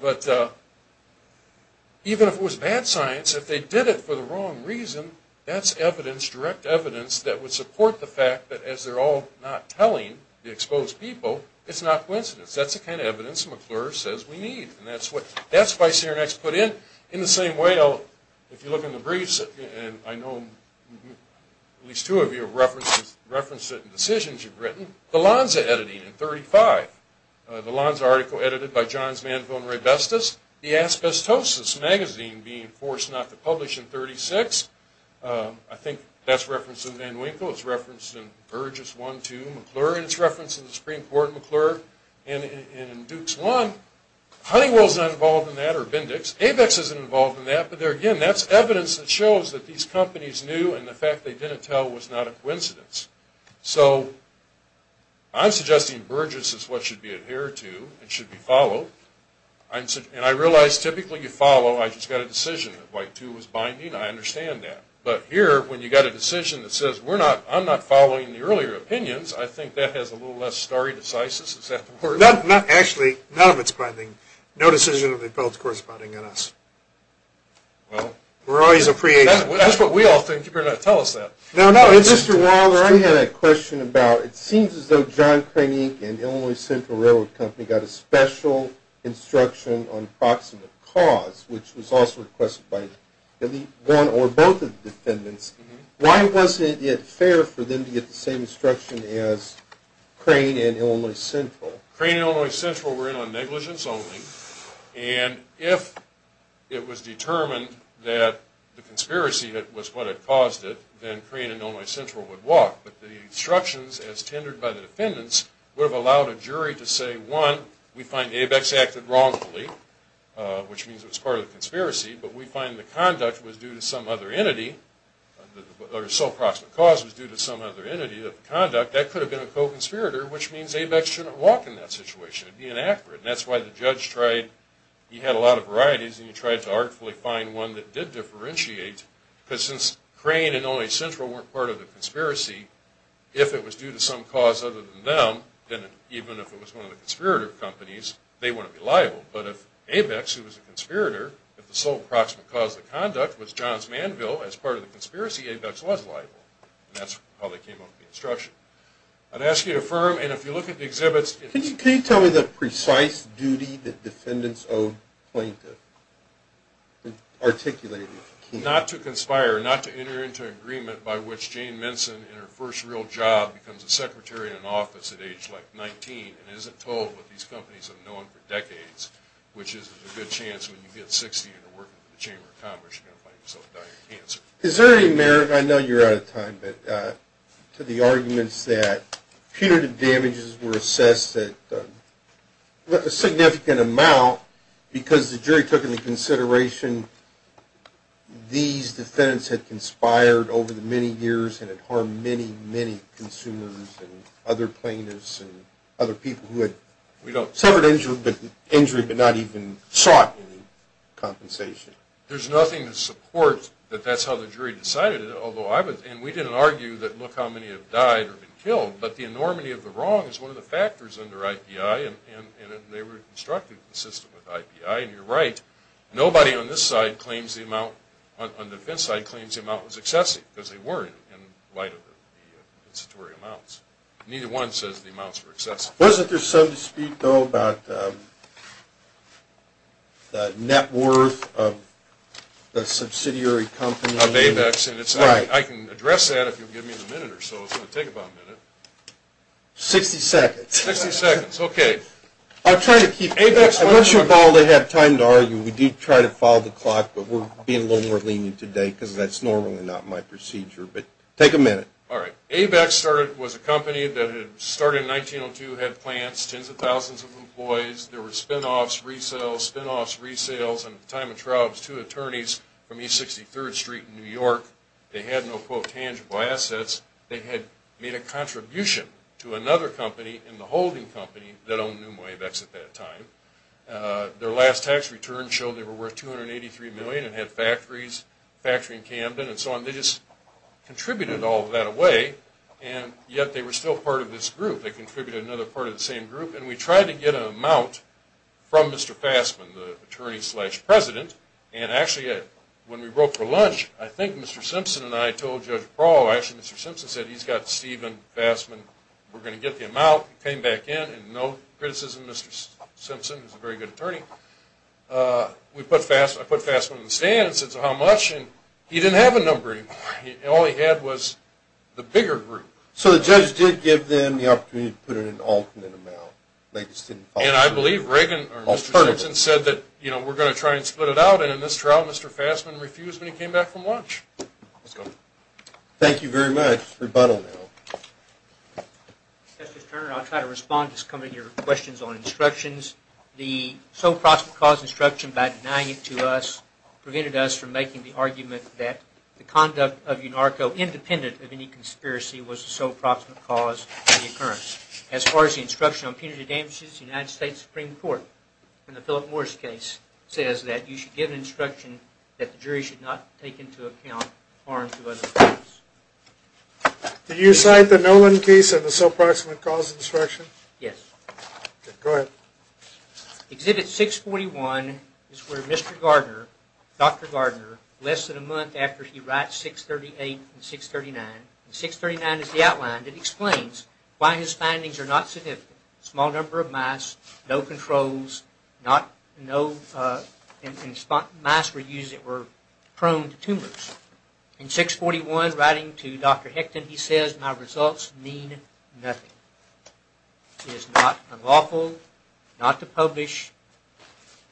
even if it was bad science, if they did it for the wrong reason, that's evidence, direct evidence, that would support the fact that, as they're all not telling the exposed people, it's not coincidence. That's the kind of evidence McClure says we need, and that's why Saranac's put in. In the same way, if you look in the briefs, and I know at least two of you have referenced it in decisions you've written, the Lonza editing in 1935, the Lonza article edited by Johns Manville and Ray Bestas, the Asbestosis magazine being forced not to publish in 1936, I think that's referenced in Van Winkle, it's referenced in Burgess 1-2, it's referenced in McClure, and it's referenced in the Supreme Court in McClure, and in Dukes 1, Honeywell's not involved in that or Bindex, Avex isn't involved in that, but again, that's evidence that shows that these companies knew and the fact they didn't tell was not a coincidence. So I'm suggesting Burgess is what should be adhered to and should be followed, and I realize typically you follow, I just got a decision that White 2 was binding, I understand that. But here, when you've got a decision that says I'm not following the earlier opinions, I think that has a little less stare decisis, is that the word? Actually, none of it's binding. No decision of the appellate's corresponding on us. We're always a free agency. That's what we all think, you better not tell us that. No, no, Mr. Waller, I had a question about, it seems as though John Crane Inc. and Illinois Central Railroad Company got a special instruction on proximate cause, which was also requested by one or both of the defendants. Why wasn't it fair for them to get the same instruction as Crane and Illinois Central? Crane and Illinois Central were in on negligence only, and if it was determined that the conspiracy was what had caused it, then Crane and Illinois Central would walk, but the instructions as tendered by the defendants would have allowed a jury to say, one, we find ABEX acted wrongfully, which means it was part of the conspiracy, but we find the conduct was due to some other entity, or sole proximate cause was due to some other entity of conduct, that could have been a co-conspirator, which means ABEX shouldn't walk in that situation, it would be inaccurate. That's why the judge tried, he had a lot of varieties, and he tried to artfully find one that did differentiate, because since Crane and Illinois Central weren't part of the conspiracy, if it was due to some cause other than them, then even if it was one of the conspirator companies, they wouldn't be liable, but if ABEX, who was a conspirator, if the sole proximate cause of the conduct was Johns Manville, as part of the conspiracy, ABEX was liable, and that's how they came up with the instruction. I'd ask you to affirm, and if you look at the exhibits... Can you tell me the precise duty that defendants owe plaintiffs? Not to conspire, not to enter into an agreement by which Jane Minson, in her first real job, becomes a secretary in an office at age 19, and isn't told what these companies have known for decades, which is there's a good chance when you get 60 and you're working for the Chamber of Commerce you're going to find yourself dying of cancer. Is there any merit, I know you're out of time, but to the arguments that punitive damages were assessed at a significant amount, because the jury took into consideration these defendants had conspired over the many years and had harmed many, many consumers and other plaintiffs and other people who had suffered injury but not even sought any compensation. There's nothing to support that that's how the jury decided it, and we didn't argue that look how many have died or been killed, but the enormity of the wrong is one of the factors under IPI, and they were constructive and consistent with IPI, and you're right. Nobody on this side claims the amount, on the defense side, nobody claims the amount was excessive because they weren't in light of the statutory amounts. Neither one says the amounts were excessive. Wasn't there some dispute though about net worth of the subsidiary company? Of ABEX, and I can address that if you'll give me a minute or so, it's going to take about a minute. 60 seconds. 60 seconds, okay. I'm trying to keep, I want you all to have time to argue, we do try to follow the clock, but we're being a little more lenient today because that's normally not my procedure, but take a minute. All right. ABEX started, was a company that had started in 1902, had plants, tens of thousands of employees, there were spinoffs, resales, spinoffs, resales, and at the time of Troubles, two attorneys from East 63rd Street in New York, they had no quote tangible assets, they had made a contribution to another company in the holding company that owned Neumoy ABEX at that time. Their last tax return showed they were worth $283 million and had factories, a factory in Camden and so on. They just contributed all of that away, and yet they were still part of this group. They contributed to another part of the same group, and we tried to get an amount from Mr. Fassman, the attorney-slash-president, and actually when we broke for lunch, I think Mr. Simpson and I told Judge Prawl, actually Mr. Simpson said he's got Steven Fassman, we're going to get the amount, he came back in, and no criticism, Mr. Simpson is a very good attorney. I put Fassman on the stand and said, so how much, and he didn't have a number anymore. All he had was the bigger group. So the judge did give them the opportunity to put in an alternate amount. And I believe Mr. Simpson said that we're going to try and split it out, and in this trial Mr. Fassman refused when he came back from lunch. Thank you very much. Rebuttal now. Justice Turner, I'll try to respond to some of your questions on instructions. The sole proximate cause instruction, by denying it to us, prevented us from making the argument that the conduct of UNARCO, independent of any conspiracy, was the sole proximate cause of the occurrence. As far as the instruction on punitive damages, the United States Supreme Court, in the Philip Morris case, says that you should give an instruction that the jury should not take into account harm to other parties. Do you cite the Nolan case and the sole proximate cause instruction? Yes. Go ahead. Exhibit 641 is where Mr. Gardner, Dr. Gardner, less than a month after he writes 638 and 639, and 639 is the outline that explains why his findings are not significant. Small number of mice, no controls, and mice were used that were prone to tumors. In 641, writing to Dr. Hecton, he says, My results mean nothing. It is not unlawful not to publish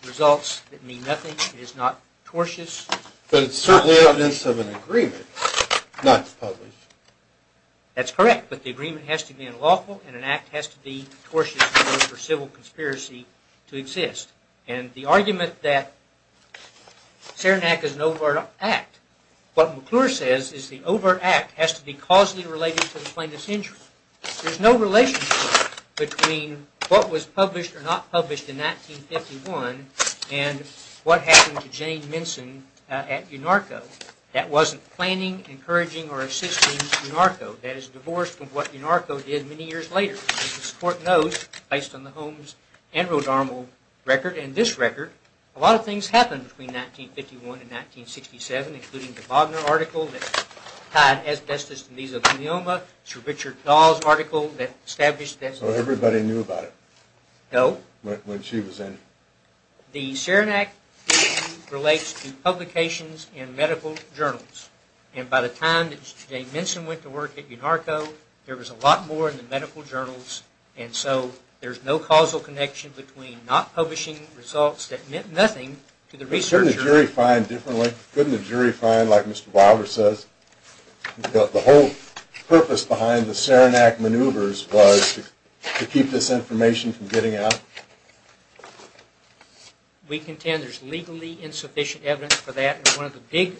results that mean nothing. It is not tortious. But it's certainly evidence of an agreement not to publish. That's correct, but the agreement has to be unlawful, and an act has to be tortious in order for civil conspiracy to exist. And the argument that Saranac is an overt act, what McClure says is the overt act has to be causally related to the plaintiff's injury. There's no relationship between what was published or not published in 1951 and what happened to Jane Minson at UNARCO. That wasn't planning, encouraging, or assisting UNARCO. That is divorced from what UNARCO did many years later. As this court knows, based on the Holmes and Rodarmo record and this record, a lot of things happened between 1951 and 1967, including the Bogner article that tied asbestos to mesothelioma, Sir Richard Dawes' article that established that. Everybody knew about it. No. When she was in. The Saranac issue relates to publications in medical journals, and by the time that Jane Minson went to work at UNARCO, there was a lot more in the medical journals, and so there's no causal connection between not publishing results that meant nothing to the researcher. Couldn't the jury find differently? Couldn't the jury find, like Mr. Wilder says, the whole purpose behind the Saranac maneuvers was to keep this information from getting out? We contend there's legally insufficient evidence for that. One of the big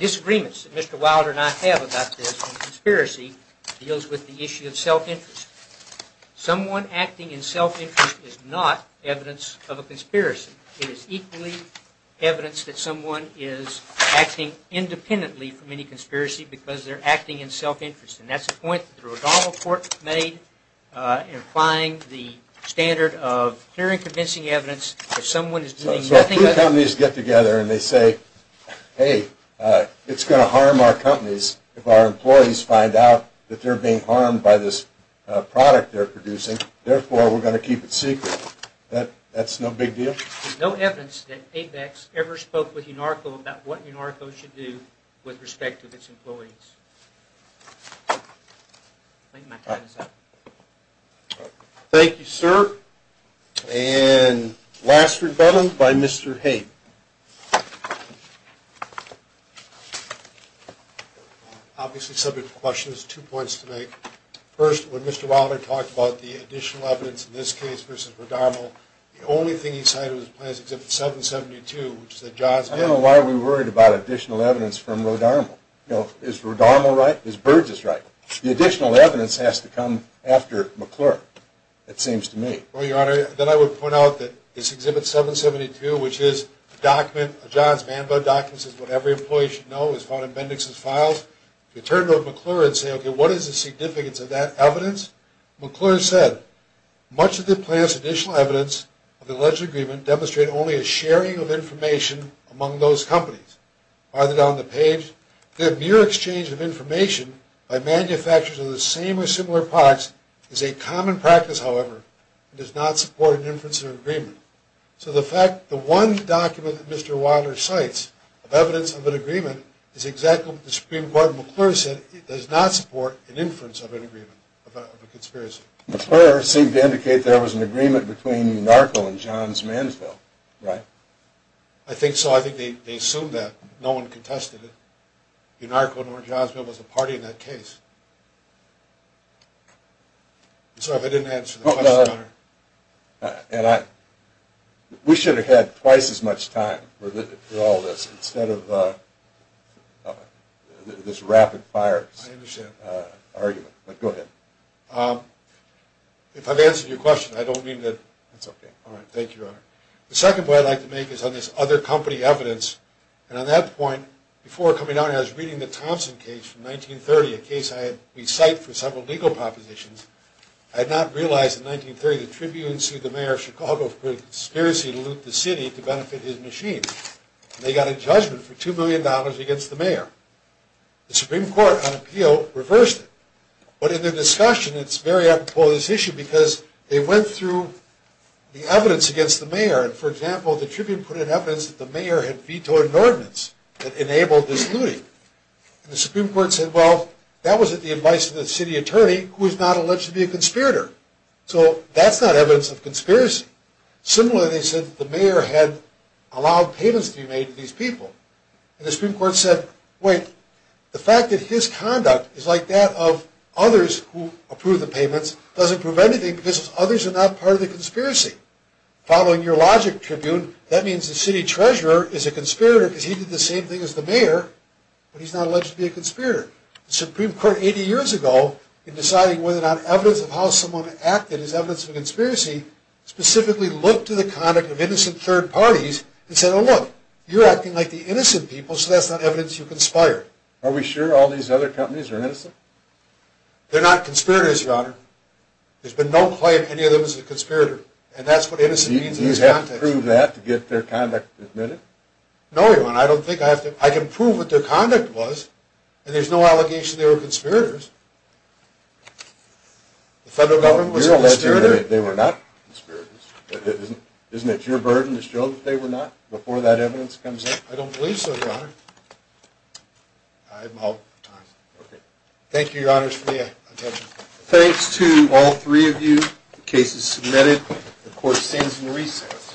disagreements that Mr. Wilder and I have about this in conspiracy deals with the issue of self-interest. Someone acting in self-interest is not evidence of a conspiracy. It is equally evidence that someone is acting independently from any conspiracy because they're acting in self-interest, and that's the point that the Rodarmo Court made in applying the standard of clear and convincing evidence that someone is doing nothing but... Hey, it's going to harm our companies if our employees find out that they're being harmed by this product they're producing. Therefore, we're going to keep it secret. That's no big deal? There's no evidence that ABEX ever spoke with UNARCO about what UNARCO should do with respect to its employees. Thank you, sir. And last rebuttment by Mr. Haidt. Obviously, subject to questions, two points to make. First, when Mr. Wilder talked about the additional evidence in this case versus Rodarmo, the only thing he cited was plans except for 772, which is that John's... I don't know why we're worried about additional evidence from Rodarmo. You know, is Rodarmo right? Is Burgess right? The additional evidence has to come after McClure, it seems to me. Well, Your Honor, then I would point out that this Exhibit 772, which is a document... a John's Bandbud document, says what every employee should know is found in Bendix's files. If you turn to McClure and say, okay, what is the significance of that evidence? McClure said, much of the plan's additional evidence of the alleged agreement demonstrated only a sharing of information among those companies. Further down the page, the mere exchange of information by manufacturers of the same or similar products is a common practice, however, and does not support an inference of an agreement. So the fact... the one document that Mr. Wilder cites of evidence of an agreement is exactly what the Supreme Court in McClure said. It does not support an inference of an agreement, of a conspiracy. McClure seemed to indicate there was an agreement between Narco and John's Mansville, right? I think so. I think they assumed that. No one contested it. Narco and John's Mansville was a party in that case. I'm sorry if I didn't answer the question, Your Honor. And I... we should have had twice as much time for all this instead of this rapid fire argument. I understand. But go ahead. If I've answered your question, I don't mean to... That's okay. All right. Thank you, Your Honor. The second point I'd like to make is on this other company evidence. And on that point, before coming down here, I was reading the Thompson case from 1930, a case I had recited for several legal propositions. I had not realized in 1930 that Tribune sued the mayor of Chicago for a conspiracy to loot the city to benefit his machine. And they got a judgment for $2 million against the mayor. The Supreme Court, on appeal, reversed it. But in their discussion, it's very apropos of this issue because they went through the evidence against the mayor. And, for example, the Tribune put in evidence that the mayor had vetoed an ordinance that enabled this looting. And the Supreme Court said, well, that was at the advice of the city attorney, who is not alleged to be a conspirator. So that's not evidence of conspiracy. Similarly, they said that the mayor had allowed payments to be made to these people. And the Supreme Court said, wait, the fact that his conduct is like that of others who approve the payments doesn't prove anything because others are not part of the conspiracy. Following your logic, Tribune, that means the city treasurer is a conspirator because he did the same thing as the mayor, but he's not alleged to be a conspirator. The Supreme Court, 80 years ago, in deciding whether or not evidence of how someone acted is evidence of a conspiracy, specifically looked to the conduct of innocent third parties and said, well, look, you're acting like the innocent people, so that's not evidence you conspired. Are we sure all these other companies are innocent? They're not conspirators, Your Honor. There's been no claim any of them is a conspirator. And that's what innocent means in this context. Do you have to prove that to get their conduct admitted? No, Your Honor, I don't think I have to. I can prove what their conduct was, and there's no allegation they were conspirators. The federal government was a conspirator. They were not conspirators. Isn't it your burden to show that they were not before that evidence comes in? I don't believe so, Your Honor. I'm out of time. Okay. Thank you, Your Honors, for your attention. Thanks to all three of you. The case is submitted. The court stands in recess.